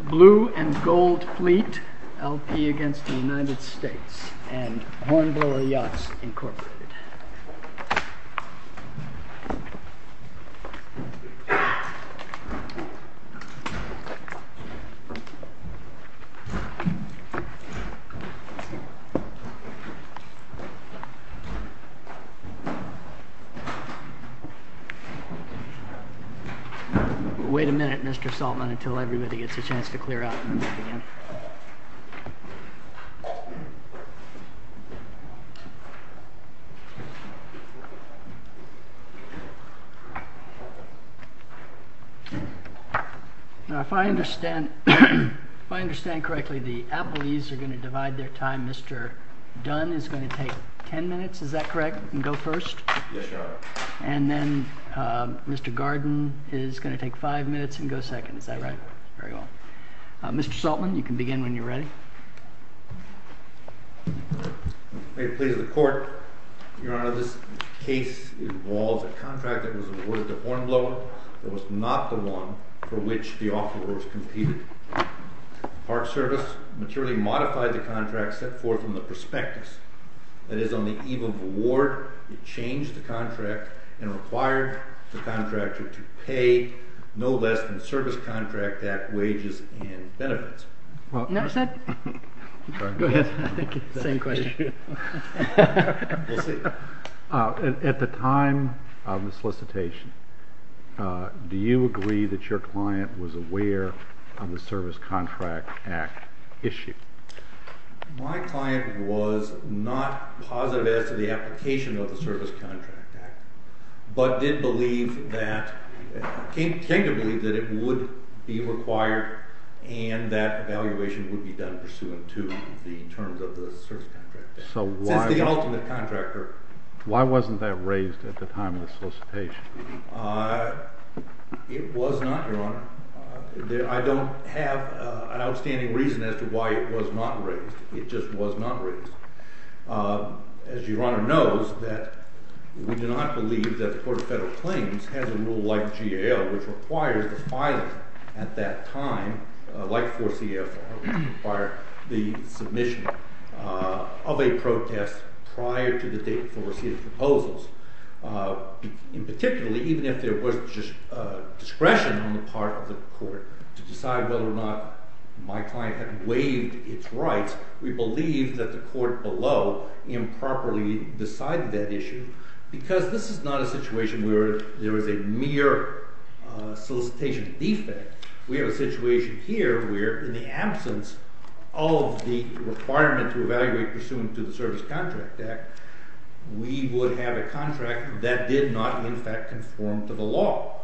Blue & Gold Fleet LP v. United States Blue & Gold Fleet LP v. United States If I understand correctly, the appellees are going to divide their time. Mr. Dunn is going to take 10 minutes, is that correct, and go first? Yes, Your Honor. And then Mr. Garden is going to take 5 minutes and go second, is that right? Very well. Mr. Saltman, you can begin when you're ready. May it please the Court, Your Honor, this case involves a contract that was awarded to Hornblower that was not the one for which the offerors competed. Park Service materially modified the contract set forth from the prospectus. That is, on the eve of award, it changed the contract and required the contractor to pay no less than the service contract at wages and benefits. At the time of the solicitation, do you agree that your client was aware of the Service Contract Act issue? My client was not positive as to the application of the Service Contract Act, but did believe that, came to believe that it would be required and that evaluation would be done pursuant to the terms of the Service Contract Act. So why— Since it's the ultimate contractor. Why wasn't that raised at the time of the solicitation? It was not, Your Honor. I don't have an outstanding reason as to why it was not raised. It just was not raised. As Your Honor knows, we do not believe that the Court of Federal Claims has a rule like GAO, which requires the filing at that time, like 4CFR, which requires the submission of a protest prior to the date before receiving proposals. In particular, even if there was just discretion on the part of the court to decide whether or not my client had waived its rights, we believe that the court below improperly decided that issue because this is not a situation where there is a mere solicitation defect. We have a situation here where, in the absence of the requirement to evaluate pursuant to the Service Contract Act, we would have a contract that did not, in fact, conform to the law.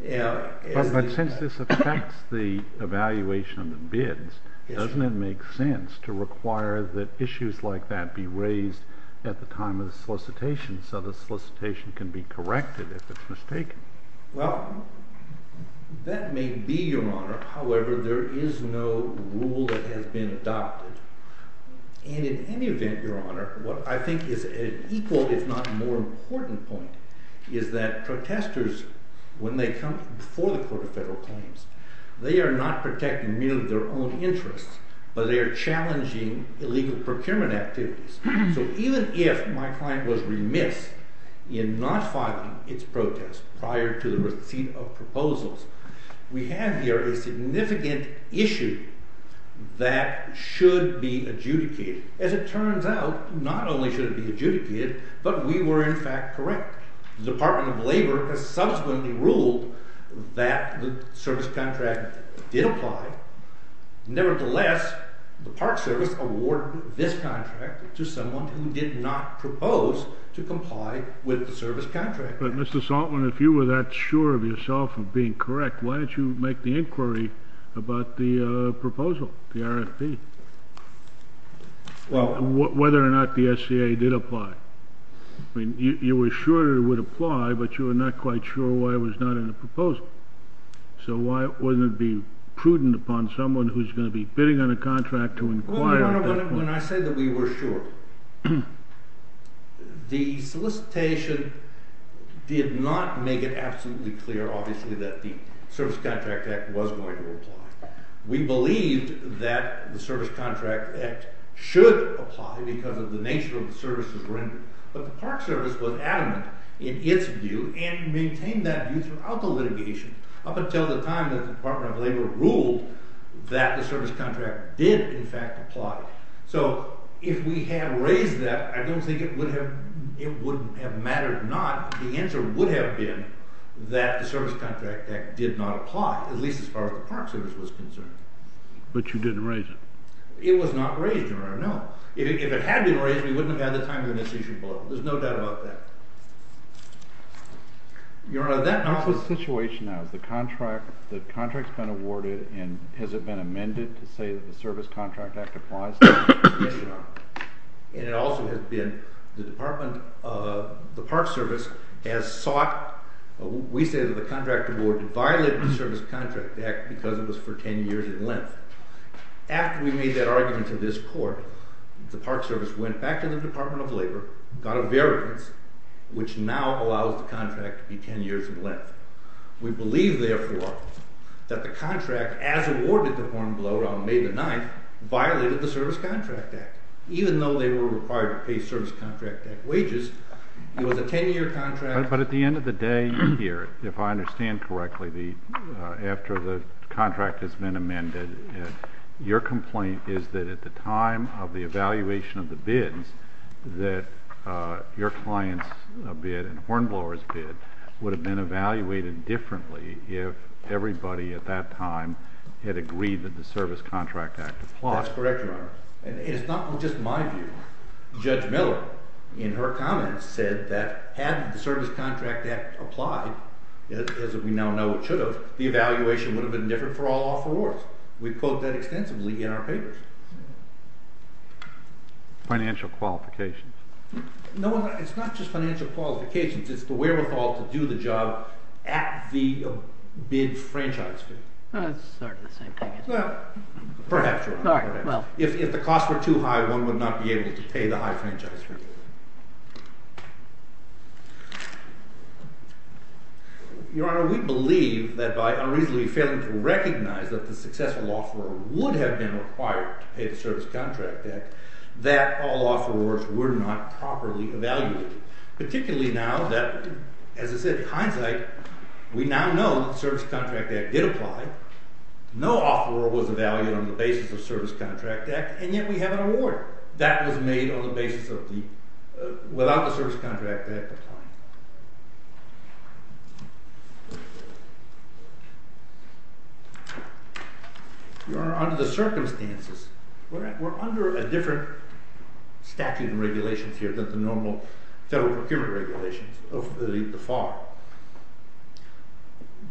But since this affects the evaluation of the bids, doesn't it make sense to require that issues like that be raised at the time of the solicitation so the solicitation can be corrected if it's mistaken? Well, that may be, Your Honor. However, there is no rule that has been adopted. And in any event, Your Honor, what I think is an equal, if not more important point, is that protesters, when they come before the Court of Federal Claims, they are not protecting merely their own interests, but they are challenging illegal procurement activities. So even if my client was remiss in not filing its protest prior to the receipt of proposals, we have here a significant issue that should be adjudicated. As it turns out, not only should it be adjudicated, but we were, in fact, correct. The Department of Labor has subsequently ruled that the service contract did apply. Nevertheless, the Park Service awarded this contract to someone who did not propose to comply with the service contract. But Mr. Saltzman, if you were that sure of yourself of being correct, why didn't you make the inquiry about the proposal, the RFP, whether or not the SCA did apply? I mean, you were sure it would apply, but you were not quite sure why it was not in the proposal. So why wouldn't it be prudent upon someone who's going to be bidding on a contract to inquire? When I say that we were sure, the solicitation did not make it absolutely clear, obviously, that the Service Contract Act was going to apply. We believed that the Service Contract Act should apply because of the nature of the services rendered, but the Park Service was adamant in its view and maintained that view throughout the litigation. Up until the time the Department of Labor ruled that the service contract did, in fact, apply. So if we had raised that, I don't think it would have mattered or not. The answer would have been that the Service Contract Act did not apply, at least as far as the Park Service was concerned. But you didn't raise it? It was not raised, Your Honor, no. If it had been raised, we wouldn't have had the time to initiate a vote. There's no doubt about that. Your Honor, that conflict situation now, has the contract been awarded and has it been amended to say that the Service Contract Act applies? Yes, Your Honor. And it also has been, the Department, the Park Service has sought, we say that the contract award violated the Service Contract Act because it was for ten years in length. After we made that argument to this Court, the Park Service went back to the Department of Labor, got a variance, which now allows the contract to be ten years in length. We believe, therefore, that the contract, as awarded to Hornblower on May the 9th, violated the Service Contract Act. Even though they were required to pay Service Contract Act wages, it was a ten-year contract. But at the end of the day here, if I understand correctly, after the contract has been amended, your complaint is that at the time of the evaluation of the bids, that your client's bid and Hornblower's bid would have been evaluated differently if everybody at that time had agreed that the Service Contract Act applies. That's correct, Your Honor. And it's not just my view. Judge Miller, in her comments, said that had the Service Contract Act applied, as we now know it should have, the evaluation would have been different for all offerors. We quote that extensively in our papers. Financial qualifications. No, it's not just financial qualifications. It's the wherewithal to do the job at the bid franchise. It's sort of the same thing. Well, perhaps, Your Honor. If the costs were too high, one would not be able to pay the high franchise fee. Your Honor, we believe that by unreasonably failing to recognize that the successful offeror would have been required to pay the Service Contract Act, that all offerors were not properly evaluated. Particularly now that, as I said, hindsight, we now know that the Service Contract Act did apply, no offeror was evaluated on the basis of the Service Contract Act, and yet we have an award. That was made on the basis of the, without the Service Contract Act applying. Your Honor, under the circumstances, we're under a different statute of regulations here than the normal federal procurement regulations of the FAR.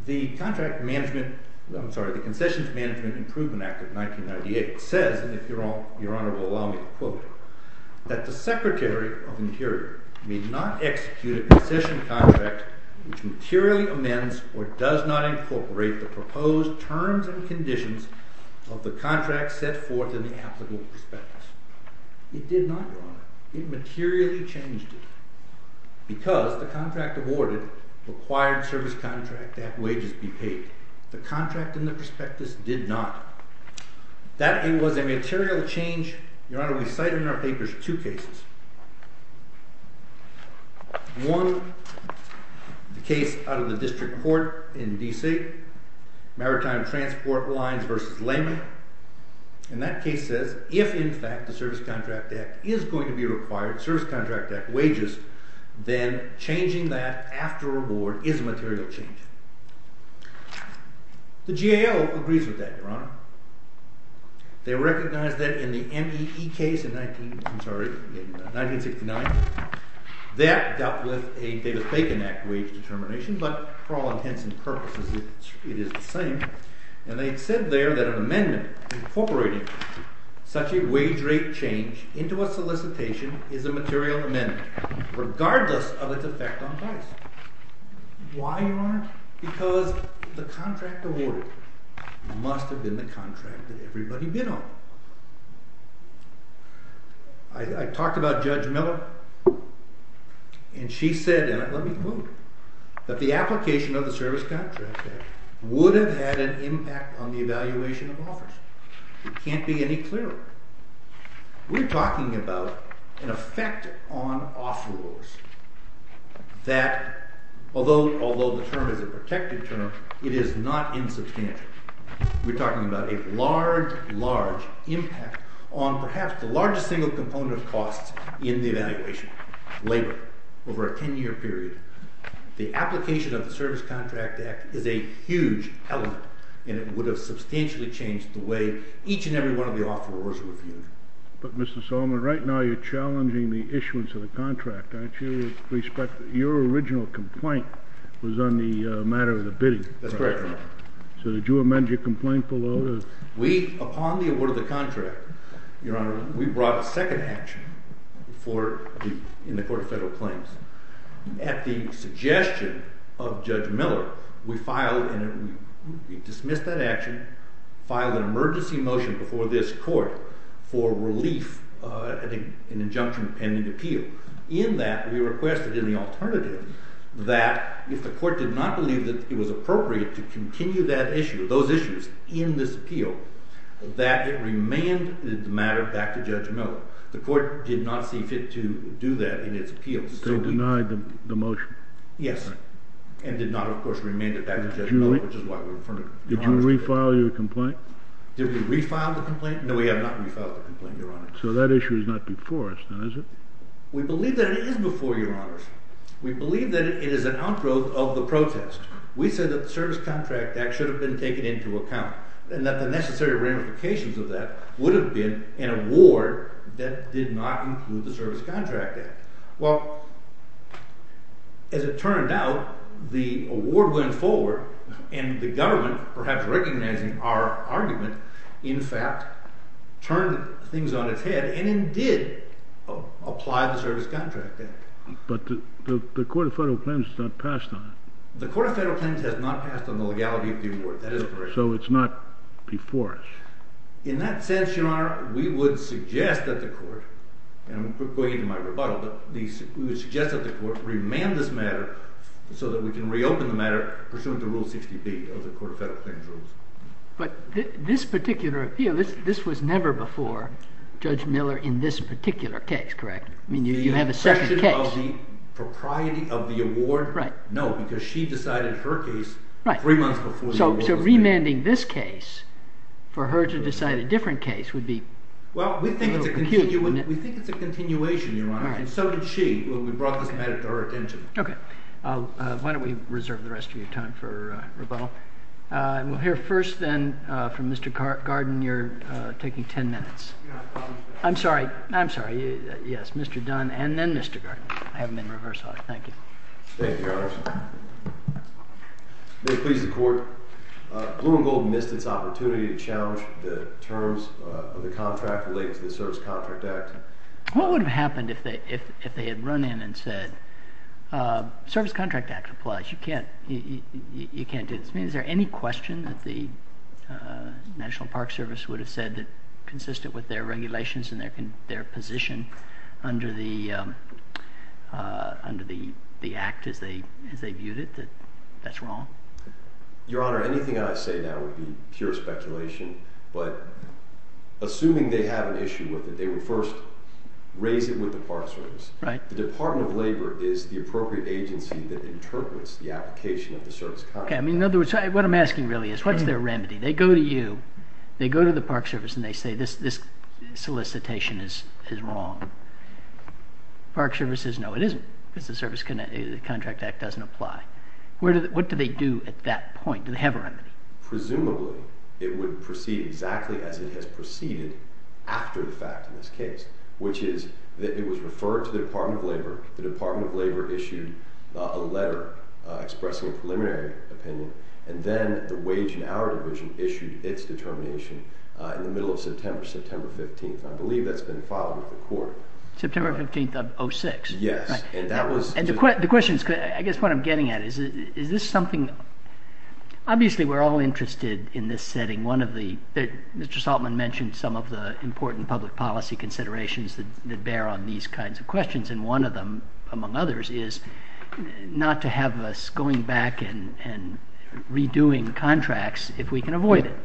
The contract management, I'm sorry, the Concessions Management Improvement Act of 1998 says, and if Your Honor will allow me to quote it, that the Secretary of the Interior may not execute a concession contract which materially amends or does not incorporate the proposed terms and conditions of the contract set forth in the applicable prospectus. It did not, Your Honor. It materially changed it. Because the contract awarded required Service Contract Act wages be paid. The contract in the prospectus did not. That it was a material change, Your Honor, we cite in our papers two cases. One, the case out of the District Court in D.C., Maritime Transport Lines v. Lamy, and that case says if in fact the Service Contract Act is going to be required, Service Contract Act wages, then changing that after award is a material change. The GAO agrees with that, Your Honor. They recognize that in the MEE case in 1969, that dealt with a Davis-Bacon Act wage determination, but for all intents and purposes, it is the same, and they said there that an amendment incorporating such a wage rate change into a solicitation is a material amendment, regardless of its effect on price. Why, Your Honor? Because the contract awarded must have been the contract that everybody bid on. I talked about Judge Miller, and she said, and let me quote, that the application of the Service Contract Act would have had an impact on the evaluation of offers. It can't be any clearer. We're talking about an effect on offerors that, although the term is a protected term, it is not insubstantial. We're talking about a large, large impact on perhaps the largest single component of costs in the evaluation, labor, over a 10-year period. The application of the Service Contract Act is a huge element, and it would have substantially changed the way each and every one of the offerors were viewed. But, Mr. Solomon, right now you're challenging the issuance of the contract, aren't you, with respect to your original complaint was on the matter of the bidding. That's correct, Your Honor. So did you amend your complaint below? We, upon the award of the contract, Your Honor, we brought a second action in the Court of Federal Claims. At the suggestion of Judge Miller, we dismissed that action, filed an emergency motion before this Court for relief, an injunction pending appeal. In that, we requested in the alternative that if the Court did not believe that it was appropriate to continue that issue, those issues, in this appeal, that it remanded the matter back to Judge Miller. The Court did not see fit to do that in its appeal. They denied the motion. Yes, and did not, of course, remand it back to Judge Miller, which is why we're in front of you. Did you refile your complaint? Did we refile the complaint? No, we have not refiled the complaint, Your Honor. So that issue is not before us, then, is it? We believe that it is before you, Your Honors. We believe that it is an outgrowth of the protest. We say that the Service Contract Act should have been taken into account, and that the necessary ramifications of that would have been an award that did not include the Service Contract Act. Well, as it turned out, the award went forward, and the government, perhaps recognizing our argument, in fact, turned things on its head and indeed applied the Service Contract Act. But the Court of Federal Claims has not passed on it. The Court of Federal Claims has not passed on the legality of the award. That is correct. So it's not before us. In that sense, Your Honor, we would suggest that the Court, and I'm going into my rebuttal, but we would suggest that the Court remand this matter so that we can reopen the matter pursuant to Rule 60B of the Court of Federal Claims Rules. But this particular appeal, this was never before Judge Miller in this particular case, correct? I mean, you have a second case. The question of the propriety of the award? Right. No, because she decided her case three months before the award was made. So remanding this case for her to decide a different case would be a little confusing. Well, we think it's a continuation, Your Honor. All right. And so did she when we brought this matter to her attention. OK. Why don't we reserve the rest of your time for rebuttal? And we'll hear first, then, from Mr. Garden. You're taking 10 minutes. I'm sorry. I'm sorry. Yes, Mr. Dunn and then Mr. Garden. I have them in reverse order. Thank you. Thank you, Your Honor. May it please the Court. Blue and Gold missed its opportunity to challenge the terms of the contract related to the Service Contract Act. What would have happened if they had run in and said, Service Contract Act applies. You can't do this. I mean, is there any question that the National Park Service would have said that consistent with their regulations and their position under the Act as they viewed it, that that's wrong? Your Honor, anything I say now would be pure speculation. But assuming they have an issue with it, they would first raise it with the Park Service. The Department of Labor is the appropriate agency that interprets the application of the Service Contract Act. OK. I mean, in other words, what I'm asking really is, what's their remedy? They go to you. They go to the Park Service and they say, this solicitation is wrong. Park Service says, no, it isn't because the Contract Act doesn't apply. What do they do at that point? Do they have a remedy? Presumably, it would proceed exactly as it has proceeded after the fact in this case, which is that it was referred to the Department of Labor. The Department of Labor issued a letter expressing a preliminary opinion. And then the Wage and Hour Division issued its determination in the middle of September, September 15th. I believe that's been filed with the court. September 15th of 06? Yes. And the question is, I guess what I'm getting at is, is this something? Obviously, we're all interested in this setting. Mr. Saltman mentioned some of the important public policy considerations that bear on these kinds of questions. And one of them, among others, is not to have us going back and redoing contracts if we can avoid it.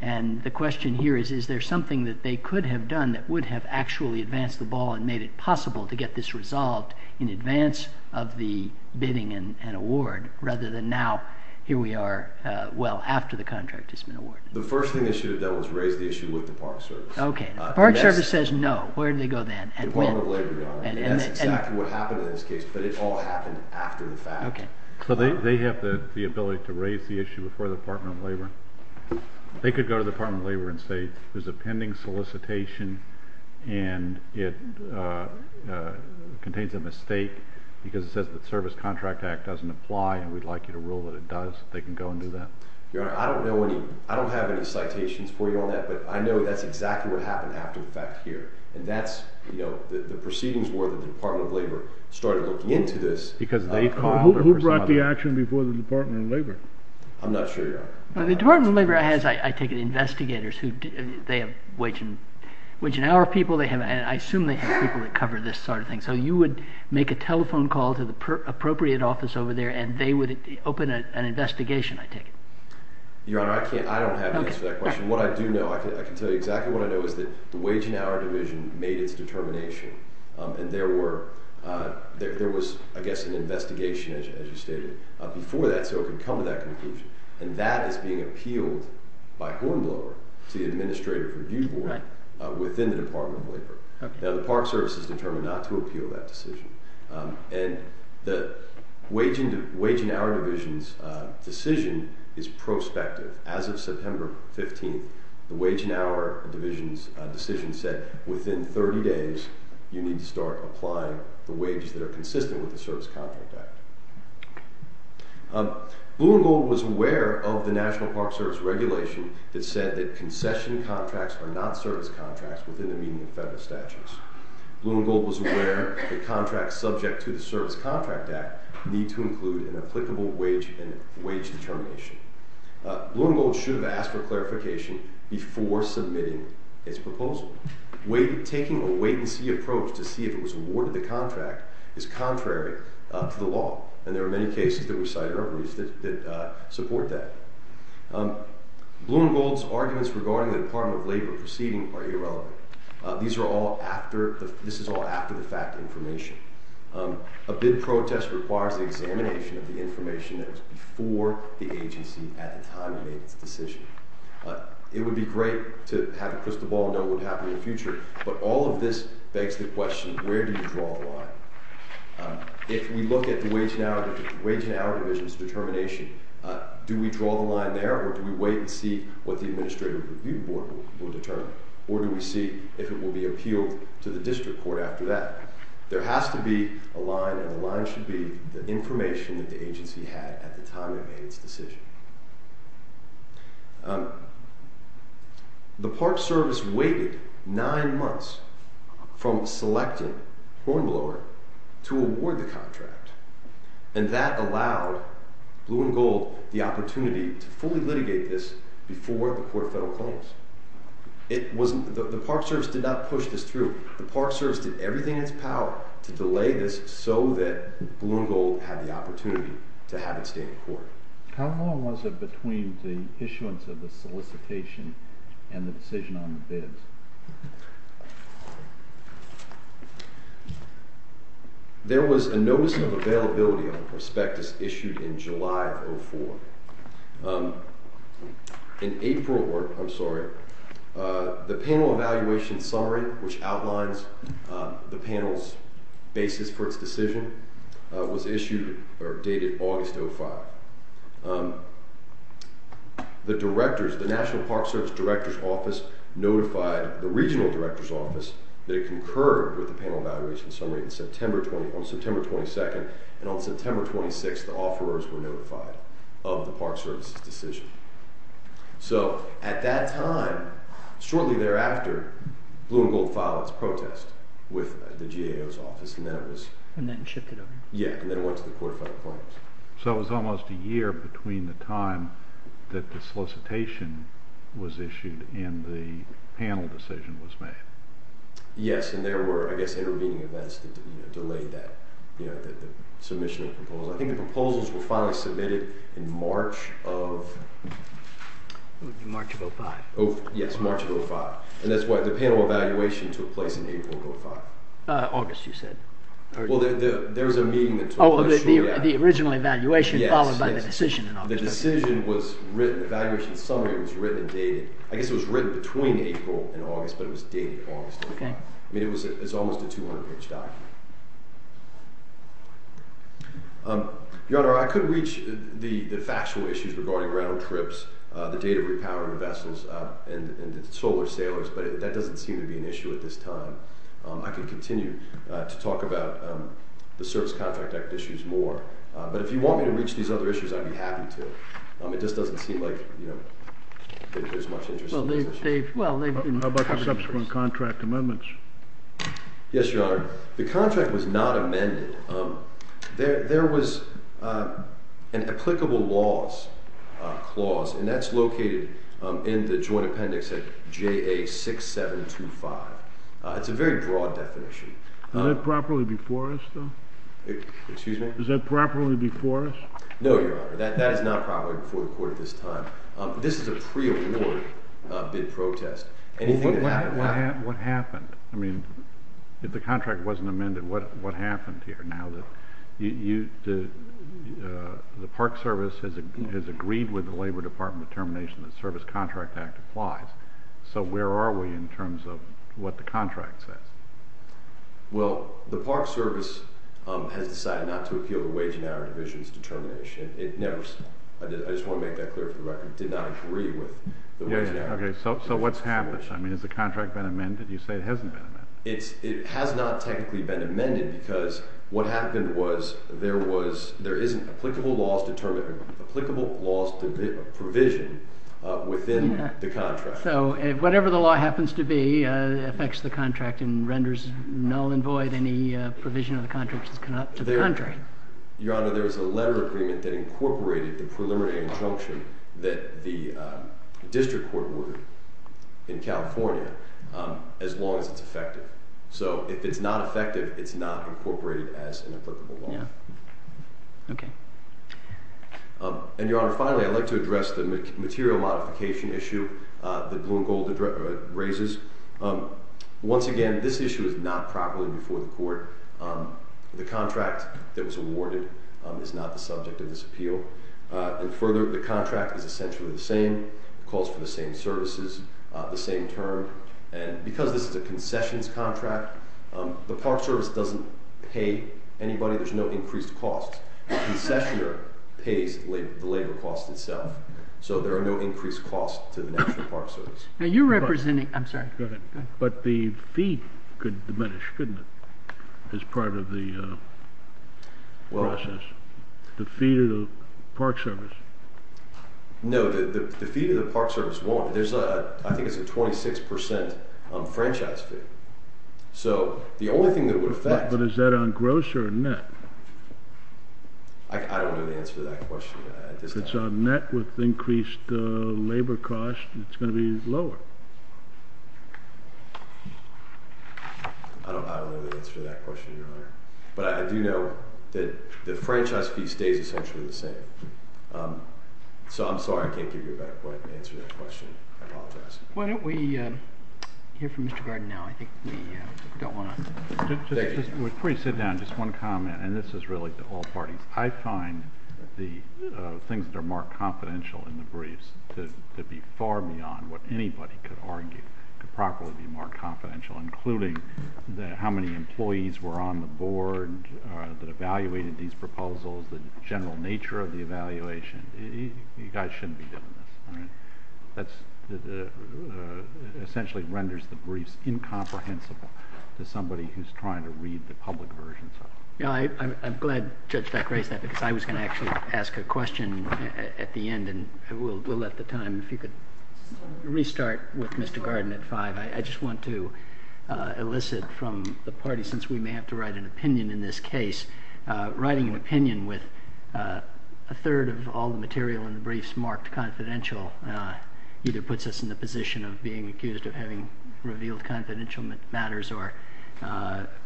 And the question here is, is there something that they could have done that would have actually advanced the ball and made it possible to get this resolved in advance of the bidding and award, rather than now, here we are, well, after the contract has been awarded? The first thing they should have done was raise the issue with the Park Service. Okay. The Park Service says, no. Where do they go then? The Department of Labor, Your Honor. And that's exactly what happened in this case, but it all happened after the fact. So they have the ability to raise the issue before the Department of Labor? They could go to the Department of Labor and say there's a pending solicitation and it contains a mistake because it says the Service Contract Act doesn't apply and we'd like you to rule that it does. They can go and do that. Your Honor, I don't know any, I don't have any citations for you on that, but I know that's exactly what happened after the fact here. And that's, you know, the proceedings were that the Department of Labor started looking into this. Who brought the action before the Department of Labor? I'm not sure, Your Honor. The Department of Labor has, I take it, investigators. They have wage and hour people. I assume they have people that cover this sort of thing. So you would make a telephone call to the appropriate office over there and they would open an investigation, I take it. Your Honor, I don't have an answer to that question. What I do know, I can tell you exactly what I know, is that the wage and hour division made its determination and there was, I guess, an investigation, as you stated, before that so it could come to that conclusion. And that is being appealed by Hornblower to the Administrative Review Board within the Department of Labor. Now the Park Service is determined not to appeal that decision. And the wage and hour division's decision is prospective. As of September 15th, the wage and hour division's decision said within 30 days you need to start applying the wages that are consistent with the Service Contract Act. Blue and Gold was aware of the National Park Service regulation that said that concession contracts are not service contracts within the meaning of federal statutes. Blue and Gold was aware that contracts subject to the Service Contract Act need to include an applicable wage and wage determination. Blue and Gold should have asked for clarification before submitting its proposal. Taking a wait-and-see approach to see if it was awarded the contract is contrary to the law, and there are many cases that we cite or have read that support that. Blue and Gold's arguments regarding the Department of Labor proceeding are irrelevant. This is all after-the-fact information. A bid protest requires the examination of the information that was before the agency at the time it made its decision. It would be great to have a crystal ball and know what would happen in the future, but all of this begs the question, where do you draw the line? If we look at the wage and hour division's determination, do we draw the line there or do we wait and see what the Administrative Review Board will determine? Or do we see if it will be appealed to the district court after that? There has to be a line, and the line should be the information that the agency had at the time it made its decision. The Park Service waited nine months from selecting Hornblower to award the contract, and that allowed Blue and Gold the opportunity to fully litigate this before the court of federal claims. The Park Service did not push this through. The Park Service did everything in its power to delay this so that Blue and Gold had the opportunity to have it stay in court. How long was it between the issuance of the solicitation and the decision on the bids? There was a notice of availability on the prospectus issued in July of 2004. In April, the panel evaluation summary, which outlines the panel's basis for its decision, was issued or dated August 2005. The National Park Service Director's Office notified the Regional Director's Office that it concurred with the panel evaluation summary on September 22, and on September 26, the offerors were notified of the Park Service's decision. At that time, shortly thereafter, Blue and Gold filed its protest with the GAO's office. And then shipped it over? Yes, and then it went to the court of federal claims. So it was almost a year between the time that the solicitation was issued and the panel decision was made. Yes, and there were intervening events that delayed the submission of the proposal. I think the proposals were finally submitted in March of... It would be March of 2005. Yes, March of 2005. And that's why the panel evaluation took place in April of 2005. August, you said. Well, there was a meeting that took place shortly after. Oh, the original evaluation followed by the decision in August 2005. The decision was written, the evaluation summary was written and dated, I guess it was written between April and August, but it was dated August 2005. It's almost a 200-page document. Your Honor, I could reach the factual issues regarding ground trips, the date of repowering the vessels and the solar sailors, but that doesn't seem to be an issue at this time. I can continue to talk about the service contract act issues more. But if you want me to reach these other issues, I'd be happy to. It just doesn't seem like there's much interest in these issues. How about the subsequent contract amendments? Yes, Your Honor. The contract was not amended. There was an applicable laws clause, and that's located in the joint appendix at JA6725. It's a very broad definition. Is that properly before us, though? Excuse me? Is that properly before us? No, Your Honor, that is not properly before the court at this time. This is a pre-award bid protest. What happened? If the contract wasn't amended, what happened here now? The Park Service has agreed with the Labor Department determination that the service contract act applies. So where are we in terms of what the contract says? Well, the Park Service has decided not to appeal the Wage and Hour Division's determination. I just want to make that clear for the record. It did not agree with the Wage and Hour Division's determination. So what's happened? I mean, has the contract been amended? You say it hasn't been amended. It has not technically been amended, because what happened was there isn't applicable laws to provision within the contract. So whatever the law happens to be affects the contract and renders null and void any provision of the contract to the country. Your Honor, there was a letter agreement that incorporated the preliminary injunction that the district court would in California as long as it's effective. So if it's not effective, it's not incorporated as an applicable law. Okay. And, Your Honor, finally, I'd like to address the material modification issue that Bloom Gold raises. Once again, this issue is not properly before the court. The contract that was awarded is not the subject of this appeal. And further, the contract is essentially the same. It calls for the same services, the same term. And because this is a concessions contract, the Park Service doesn't pay anybody. There's no increased cost. The concessioner pays the labor cost itself. So there are no increased costs to the National Park Service. Now, you're representing... I'm sorry. Go ahead. But the fee could diminish, couldn't it, as part of the process? The fee to the Park Service. No, the fee to the Park Service won't. I think it's a 26% franchise fee. So the only thing that would affect... But is that on gross or net? I don't know the answer to that question at this time. If it's on net with increased labor cost, it's going to be lower. I don't know the answer to that question, Your Honor. But I do know that the franchise fee stays essentially the same. So I'm sorry I can't give you a better point to answer that question. I apologize. Why don't we hear from Mr. Gardner now? I think we don't want to... Just before you sit down, just one comment. And this is really to all parties. I find the things that are marked confidential in the briefs to be far beyond what anybody could argue could properly be marked confidential, including how many employees were on the board that evaluated these proposals, the general nature of the evaluation. You guys shouldn't be doing this. That essentially renders the briefs incomprehensible to somebody who's trying to read the public version. I'm glad Judge Beck raised that, because I was going to actually ask a question at the end, and we'll let the time... If you could restart with Mr. Gardner at 5. I just want to elicit from the party, since we may have to write an opinion in this case, writing an opinion with a third of all the material in the briefs marked confidential either puts us in the position of being accused of having revealed confidential matters or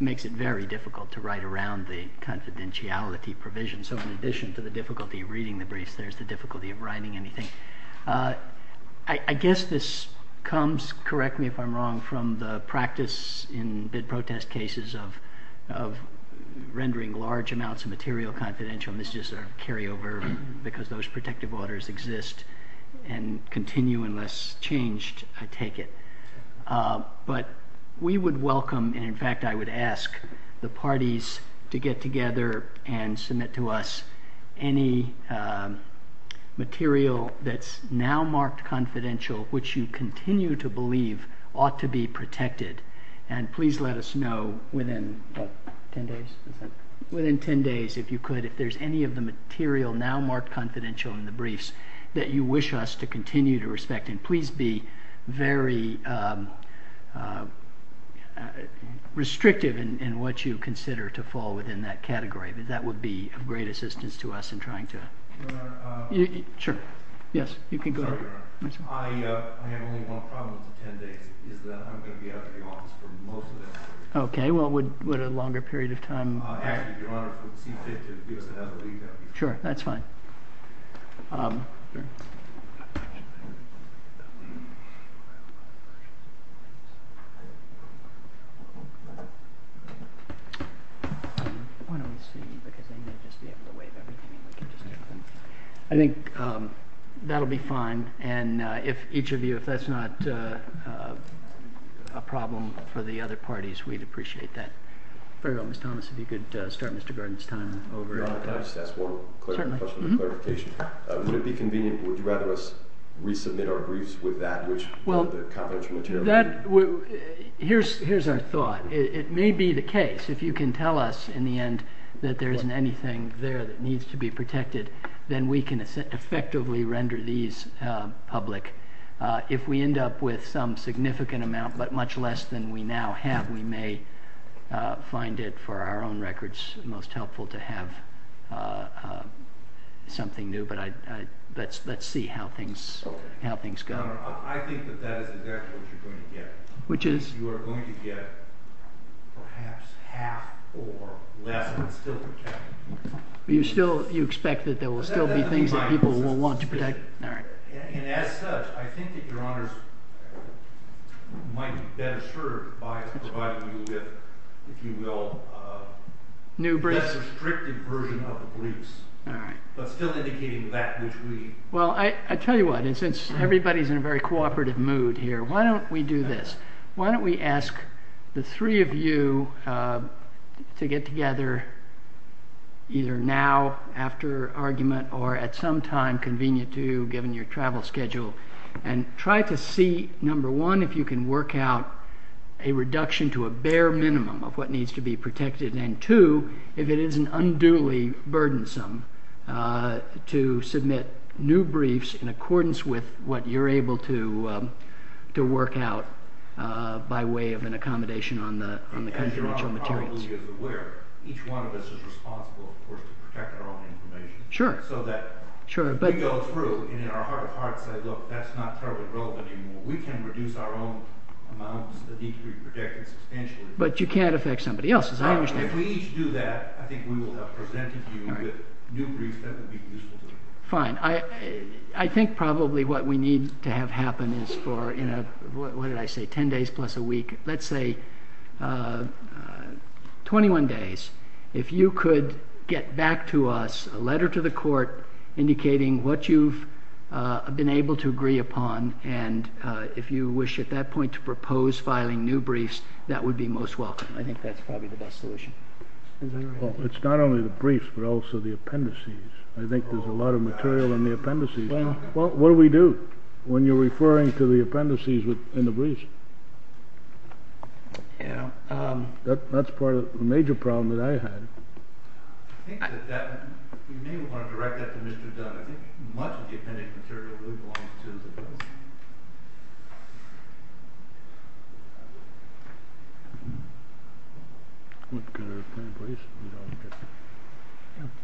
makes it very difficult to write around the confidentiality provision. So in addition to the difficulty of reading the briefs, there's the difficulty of writing anything. I guess this comes, correct me if I'm wrong, from the practice in bid protest cases of rendering large amounts of material confidential, and this is just a carryover because those protective orders exist and continue unless changed, I take it. But we would welcome, and in fact I would ask, the parties to get together and submit to us any material that's now marked confidential, which you continue to believe ought to be protected, and please let us know within 10 days, if you could, if there's any of the material now marked confidential in the briefs that you wish us to continue to respect, and please be very restrictive in what you consider to fall within that category. That would be of great assistance to us in trying to... Your Honor... Sure, yes, you can go ahead. I have only one problem with the 10 days, is that I'm going to be out of the office for most of it. Okay, well, would a longer period of time... Actually, Your Honor, would it be safe to give us another week? Sure, that's fine. I think that'll be fine, and if each of you, if that's not a problem for the other parties, we'd appreciate that. Fair enough. Ms. Thomas, if you could start Mr. Gordon's time over. Your Honor, I just ask one question for clarification. if that's not a problem for the other parties, would it be convenient, would you rather us resubmit our briefs with that confidential material? Here's our thought. It may be the case, if you can tell us, in the end, that there isn't anything there that needs to be protected, then we can effectively render these public. If we end up with some significant amount, but much less than we now have, we may find it, for our own records, most helpful to have something new. But let's see how things go. Your Honor, I think that that is exactly what you're going to get. Which is? You are going to get perhaps half or less that's still protected. You expect that there will still be things that people will want to protect? And as such, I think that Your Honor might be better assured by providing you with, if you will, a less restrictive version of the briefs. But still indicating that which we... Well, I tell you what, and since everybody's in a very cooperative mood here, why don't we do this? Why don't we ask the three of you to get together either now, after argument, or at some time convenient to you, given your travel schedule, and try to see, number one, if you can work out a reduction to a bare minimum of what needs to be protected, and two, if it isn't unduly burdensome to submit new briefs in accordance with what you're able to work out by way of an accommodation on the confidential materials. As Your Honor probably is aware, each one of us is responsible, of course, to protect our own information. Sure. Sure, but... But you can't affect somebody else's, I understand. Fine. I think probably what we need to have happen is for, in a, what did I say, 10 days plus a week, let's say 21 days, if you could get back to us a letter to the court indicating what you've been able to agree upon, and if you wish at that point to propose filing new briefs, that would be most welcome. I think that's probably the best solution. It's not only the briefs, but also the appendices. I think there's a lot of material in the appendices. Well, what do we do when you're referring to the appendices in the briefs? Yeah. That's part of the major problem that I had. I think that we may want to direct that to Mr. Dunn. I think much of the appendix material really belongs to the defense.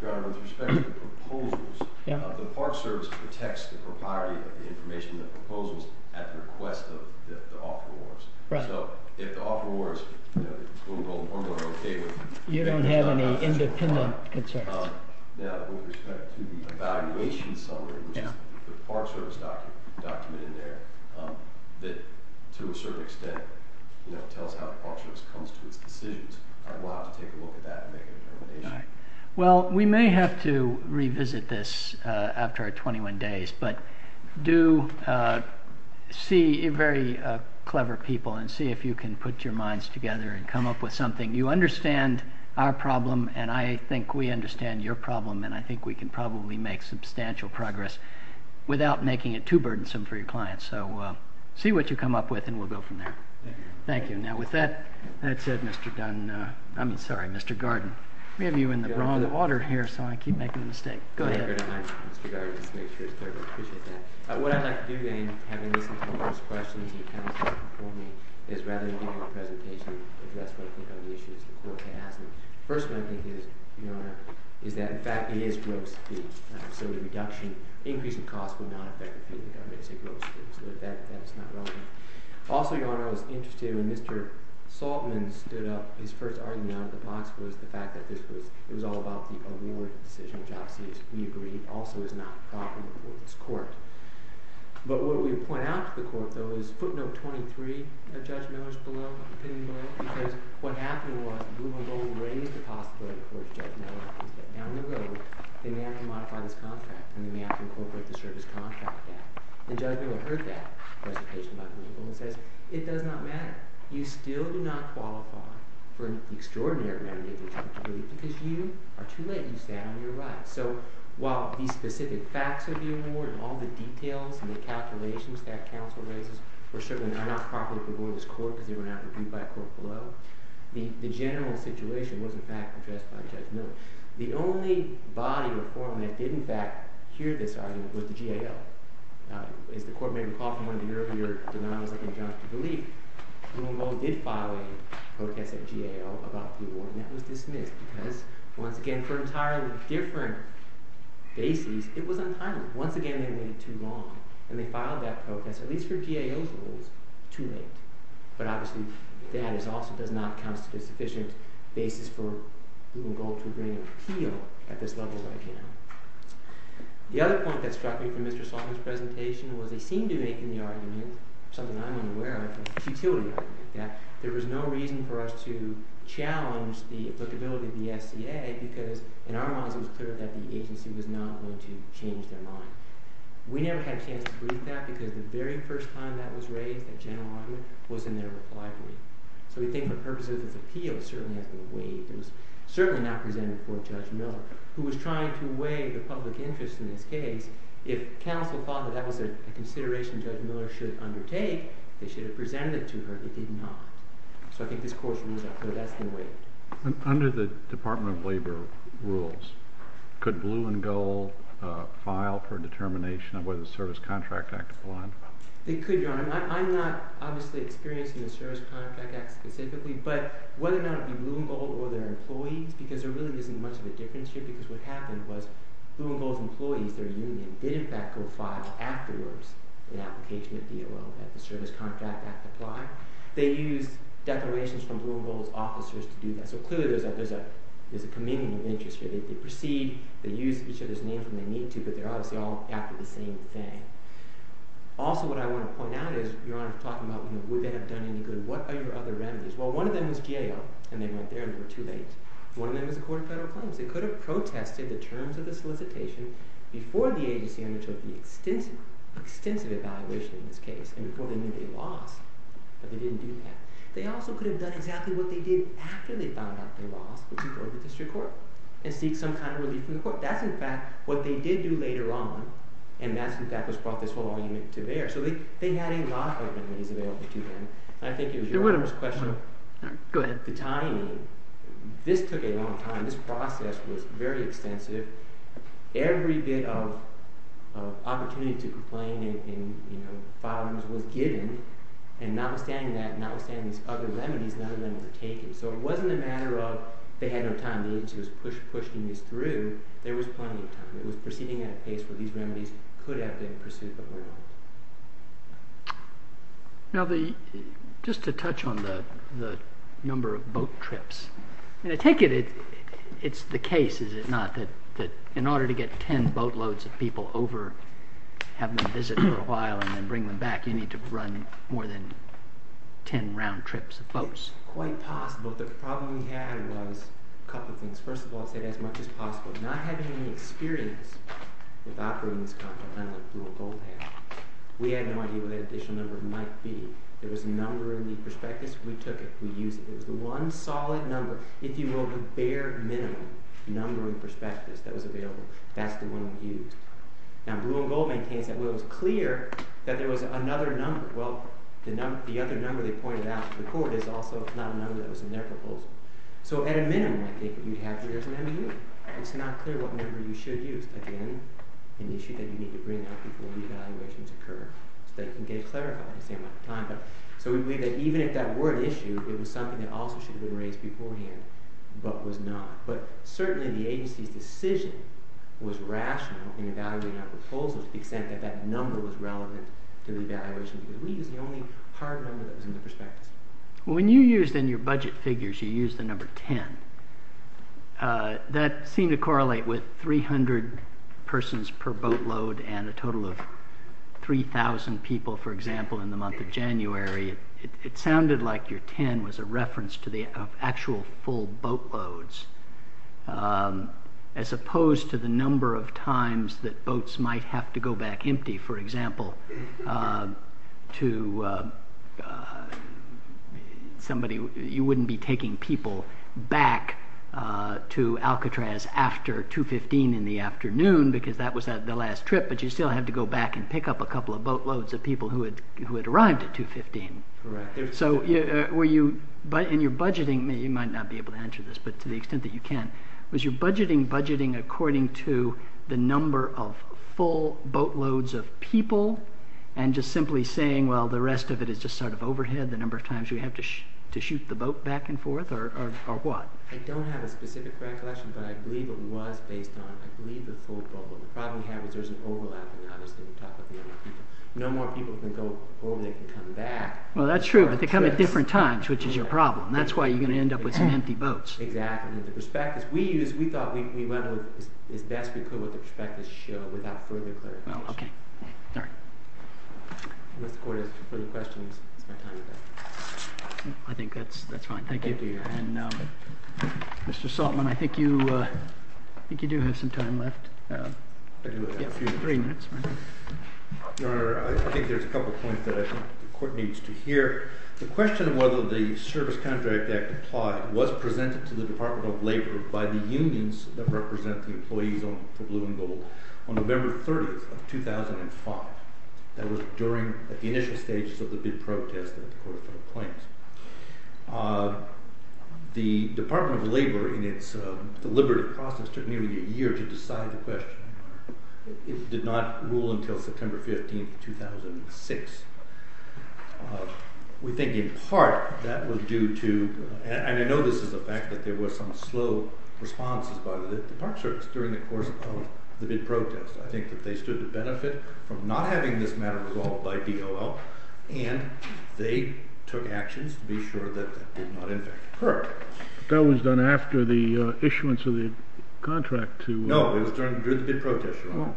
Your Honor, with respect to the proposals, the Park Service protects the propriety of the information in the proposals at the request of the offerors. Right. So, if the offerors, you know, are more than okay with... You don't have any independent concerns. Now, with respect to the evaluation summary, which is the Park Service document in there, that to a certain extent, you know, tells how the Park Service comes to its decisions, I'd love to take a look at that and make a determination. All right. Well, we may have to revisit this after our 21 days, but do see very clever people and see if you can put your minds together and come up with something. You understand our problem, and I think we understand your problem, and I think we can probably make substantial progress without making it too burdensome for your clients. So, see what you come up with, and we'll go from there. Thank you. Thank you. Now, with that said, Mr. Dunn... I mean, sorry, Mr. Garden. We have you in the wrong order here, so I keep making a mistake. Go ahead. It's better to hide, Mr. Garden, to make sure it's clear. I appreciate that. What I'd like to do then, having listened to all those questions and counsel before me, is rather than give you a presentation, address what I think are the issues the court has. The first one I think is, Your Honor, is that in fact it is gross fee. So the reduction, increase in cost would not affect the fee, but I'm going to say gross fee, so that's not relevant. Also, Your Honor, I was interested when Mr. Saltman stood up, his first argument out of the box was the fact that this was all about the award decision, which obviously, as we agreed, also is not profitable for this court. But what we point out to the court, though, is footnote 23 of Judge Miller's opinion below, because what happened was the Blue and Gold raised the possibility for Judge Miller that down the road they may have to modify this contract and they may have to incorporate the service contract back. And Judge Miller heard that presentation by Blue and Gold and says, it does not matter. You still do not qualify for an extraordinary amount of income because you are too late. You stand on your rights. So while these specific facts of the award and all the details and the calculations that counsel raises were certainly not profitable for this court because they were not reviewed by a court below, the general situation was in fact addressed by Judge Miller. The only body or forum that did in fact hear this argument was the GAO. As the Court may recall from one of the earlier denials of injunctive belief, Blue and Gold did file a protest at GAO about the award and that was dismissed because, once again, for entirely different bases, it was untimely. Once again, they waited too long. And they filed that protest, at least for GAO's rules, too late. But obviously that also does not count as a sufficient basis for Blue and Gold to bring an appeal at this level right now. The other point that struck me from Mr. Salter's presentation was they seemed to be making the argument, something I'm unaware of, the futility argument, that there was no reason for us to challenge the applicability of the SCA because, in our minds, it was clear that the agency was not going to change their mind. We never had a chance to brief that because the very first time that was raised at general argument was in their reply brief. So we think the purpose of this appeal certainly has been waived. It was certainly not presented before Judge Miller, who was trying to weigh the public interest in this case. If counsel thought that that was a consideration Judge Miller should undertake, they should have presented it to her. They did not. So I think this court's rules are clear. That's been waived. Under the Department of Labor rules, could Blue and Gold file for determination of whether the Service Contract Act applied? It could, Your Honor. I'm not, obviously, experiencing the Service Contract Act specifically, but whether or not it would be Blue and Gold or their employees, because there really isn't much of a difference here because what happened was Blue and Gold's employees, their union, did, in fact, go file afterwards an application of DOO that the Service Contract Act apply. They used declarations from Blue and Gold's officers to do that. So clearly there's a communion of interest here. They proceed. They use each other's names when they need to, but they're obviously all after the same thing. Also what I want to point out is, Your Honor, talking about would they have done any good, what are your other remedies? Well, one of them was GAO, and they went there and they were too late. One of them is a court of federal claims. They could have protested the terms of the solicitation before the agency undertook the extensive evaluation in this case and before they knew they lost, but they didn't do that. They also could have done exactly what they did after they found out they lost, which is go to the district court and seek some kind of relief from the court. That's, in fact, what they did do later on, and that's, in fact, what's brought this whole argument to bear. So they had a lot of remedies available to them. I think it was Your Honor's question of the timing. This took a long time. This process was very extensive. Every bit of opportunity to complain and file was given, and notwithstanding that, notwithstanding these other remedies, none of them were taken. So it wasn't a matter of they had no time. The agency was pushing this through. There was plenty of time. It was proceeding at a pace where these remedies could have been pursued before. Now, just to touch on the number of boat trips. I take it it's the case, is it not, that in order to get ten boatloads of people over, have them visit for a while, and then bring them back, you need to run more than ten round trips of boats. Quite possible. The problem we had was a couple of things. First of all, I'd say as much as possible. Not having any experience with operating this condo, I know that you will both have, we had no idea what that additional number might be. There was a number in the prospectus. We took it. We used it. It was the one solid number, if you will, the bare minimum number in the prospectus that was available. That's the one we used. Now, Blue and Gold maintains that it was clear that there was another number. Well, the other number they pointed out to the court is also not a number that was in their proposal. So at a minimum, I think, you'd have three years of MEU. It's not clear what number you should use. Again, an issue that you need to bring up before re-evaluations occur, so they can get clarified the same amount of time. So we believe that even if that were an issue, it was something that also should have been raised beforehand, but was not. But certainly the agency's decision was rational in evaluating our proposal to the extent that that number was relevant to the evaluation. We used the only hard number that was in the prospectus. When you used in your budget figures, you used the number 10. That seemed to correlate with 300 persons per boatload and a total of 3,000 people, for example, in the month of January. It sounded like your 10 was a reference to the actual full boatloads, as opposed to the number of times that boats might have to go back empty, for example, to somebody... You wouldn't be taking people back to Alcatraz after 2.15 in the afternoon, because that was the last trip, but you'd still have to go back and pick up a couple of boatloads of people who had arrived at 2.15. Correct. So in your budgeting, you might not be able to answer this, but to the extent that you can, was your budgeting budgeting according to the number of full boatloads of people and just simply saying, well, the rest of it is just sort of overhead, the number of times you have to shoot the boat back and forth, or what? I don't have a specific recollection, but I believe it was based on, The problem we have is there's an overlap, and obviously we talk about the number of people. No more people can go over, they can come back. Well, that's true, but they come at different times, which is your problem. That's why you're going to end up with some empty boats. Exactly. The prospectus we used, we thought we went with as best we could with the prospectus show without further clarification. Oh, okay. All right. Unless the court has further questions, it's my time to go. I think that's fine. Thank you. Thank you. And Mr. Saltman, I think you do have some time left. I do. Yeah, three minutes. Your Honor, I think there's a couple of points that I think the court needs to hear. The question of whether the Service Contract Act applied was presented to the Department of Labor by the unions that represent the employees for blue and gold on November 30th of 2005. That was during the initial stages of the big protest that the Court of Federal Claims. The Department of Labor, in its deliberative process, took nearly a year to decide the question. It did not rule until September 15th, 2006. We think in part that was due to... And I know this is a fact that there were some slow responses by the Park Service during the course of the big protest. I think that they stood to benefit from not having this matter resolved by DOL, and they took actions to be sure that that did not, in fact, occur. That was done after the issuance of the contract to... No, it was during the big protest. No.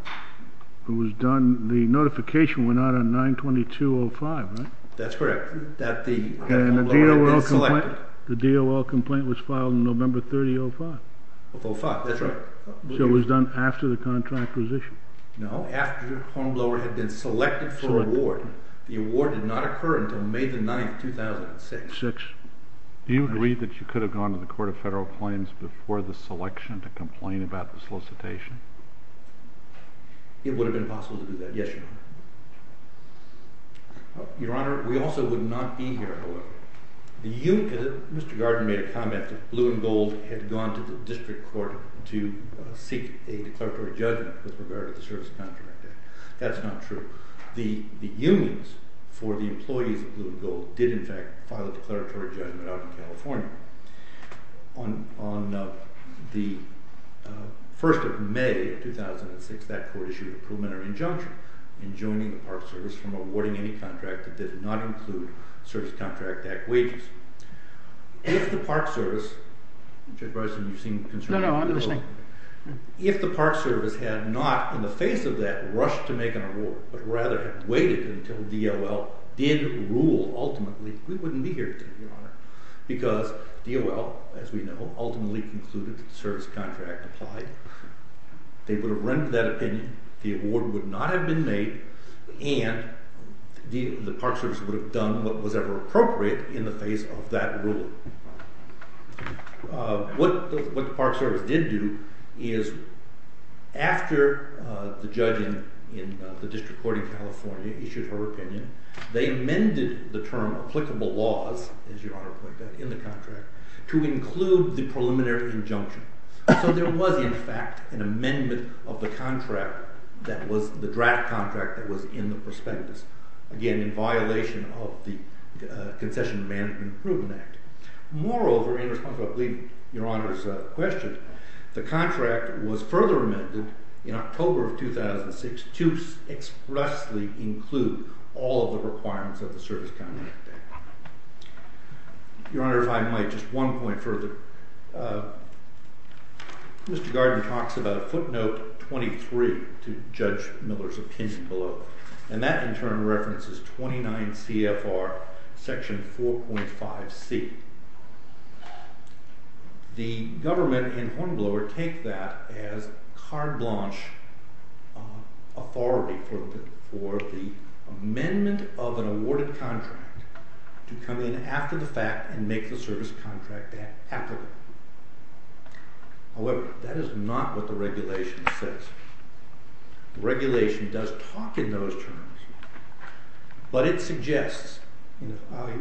It was done... The notification went out on 9-22-05, right? That's correct. That the... And the DOL complaint... The DOL complaint was filed on November 30th, 2005. Of 05, that's right. So it was done after the contract was issued. No, after Hornblower had been selected for award. The award did not occur until May 9th, 2006. Six. Do you agree that you could have gone to the Court of Federal Claims before the selection to complain about the solicitation? It would have been possible to do that. Yes, Your Honor. Your Honor, we also would not be here, however. The union... Mr. Gardner made a comment that Blue and Gold had gone to the district court to seek a declaratory judgment with regard to the Service Contract Act. That's not true. The unions for the employees of Blue and Gold did, in fact, file a declaratory judgment out in California on the... 1st of May of 2006. That court issued a preliminary injunction in joining the Park Service from awarding any contract that did not include the Service Contract Act wages. If the Park Service... Judge Bryson, you seem concerned... No, no, I'm listening. If the Park Service had not, in the face of that, rushed to make an award, but rather had waited until DOL did rule, ultimately, we wouldn't be here today, Your Honor. Because DOL, as we know, ultimately concluded that the Service Contract applied. They would have rendered that opinion, the award would not have been made, and the Park Service would have done what was ever appropriate in the face of that ruling. What the Park Service did do is, after the judge in the District Court in California issued her opinion, they amended the term applicable laws, as Your Honor pointed out, in the contract, to include the preliminary injunction. So there was, in fact, an amendment of the contract that was, the draft contract that was in the prospectus. Again, in violation of the Concession of Management Improvement Act. Moreover, in response to, I believe, Your Honor's question, the contract was further amended in October of 2006 to expressly include all of the requirements of the Service Contract Act. Your Honor, if I might, just one point further. Mr. Gardner talks about footnote 23 to Judge Miller's opinion below. And that, in turn, references 29 CFR section 4.5C. The government and Hornblower take that as carte blanche authority for the amendment of an awarded contract to come in after the fact and make the Service Contract Act applicable. However, that is not what the regulation says. The regulation does talk in those terms. But it suggests,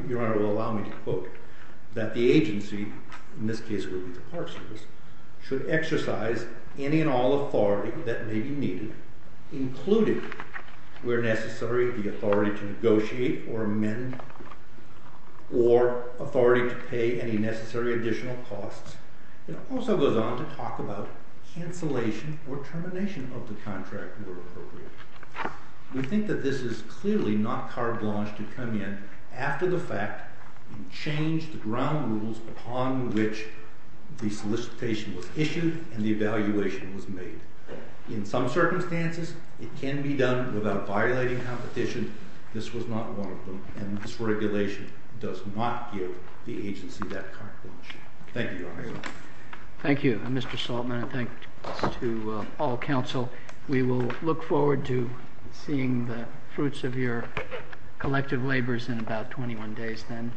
Your Honor will allow me to quote, that the agency, in this case it would be the Park Service, should exercise any and all authority that may be needed, including, where necessary, the authority to negotiate or amend or authority to pay any necessary additional costs. It also goes on to talk about cancellation or termination of the contract where appropriate. We think that this is clearly not carte blanche to come in after the fact and change the ground rules upon which the solicitation was issued and the evaluation was made. In some circumstances, it can be done without violating competition. This was not one of them. And this regulation does not give the agency that carte blanche. Thank you, Your Honor. Thank you, Mr. Saltzman. And thanks to all counsel. We will look forward to seeing the fruits of your collective labors in about 21 days then.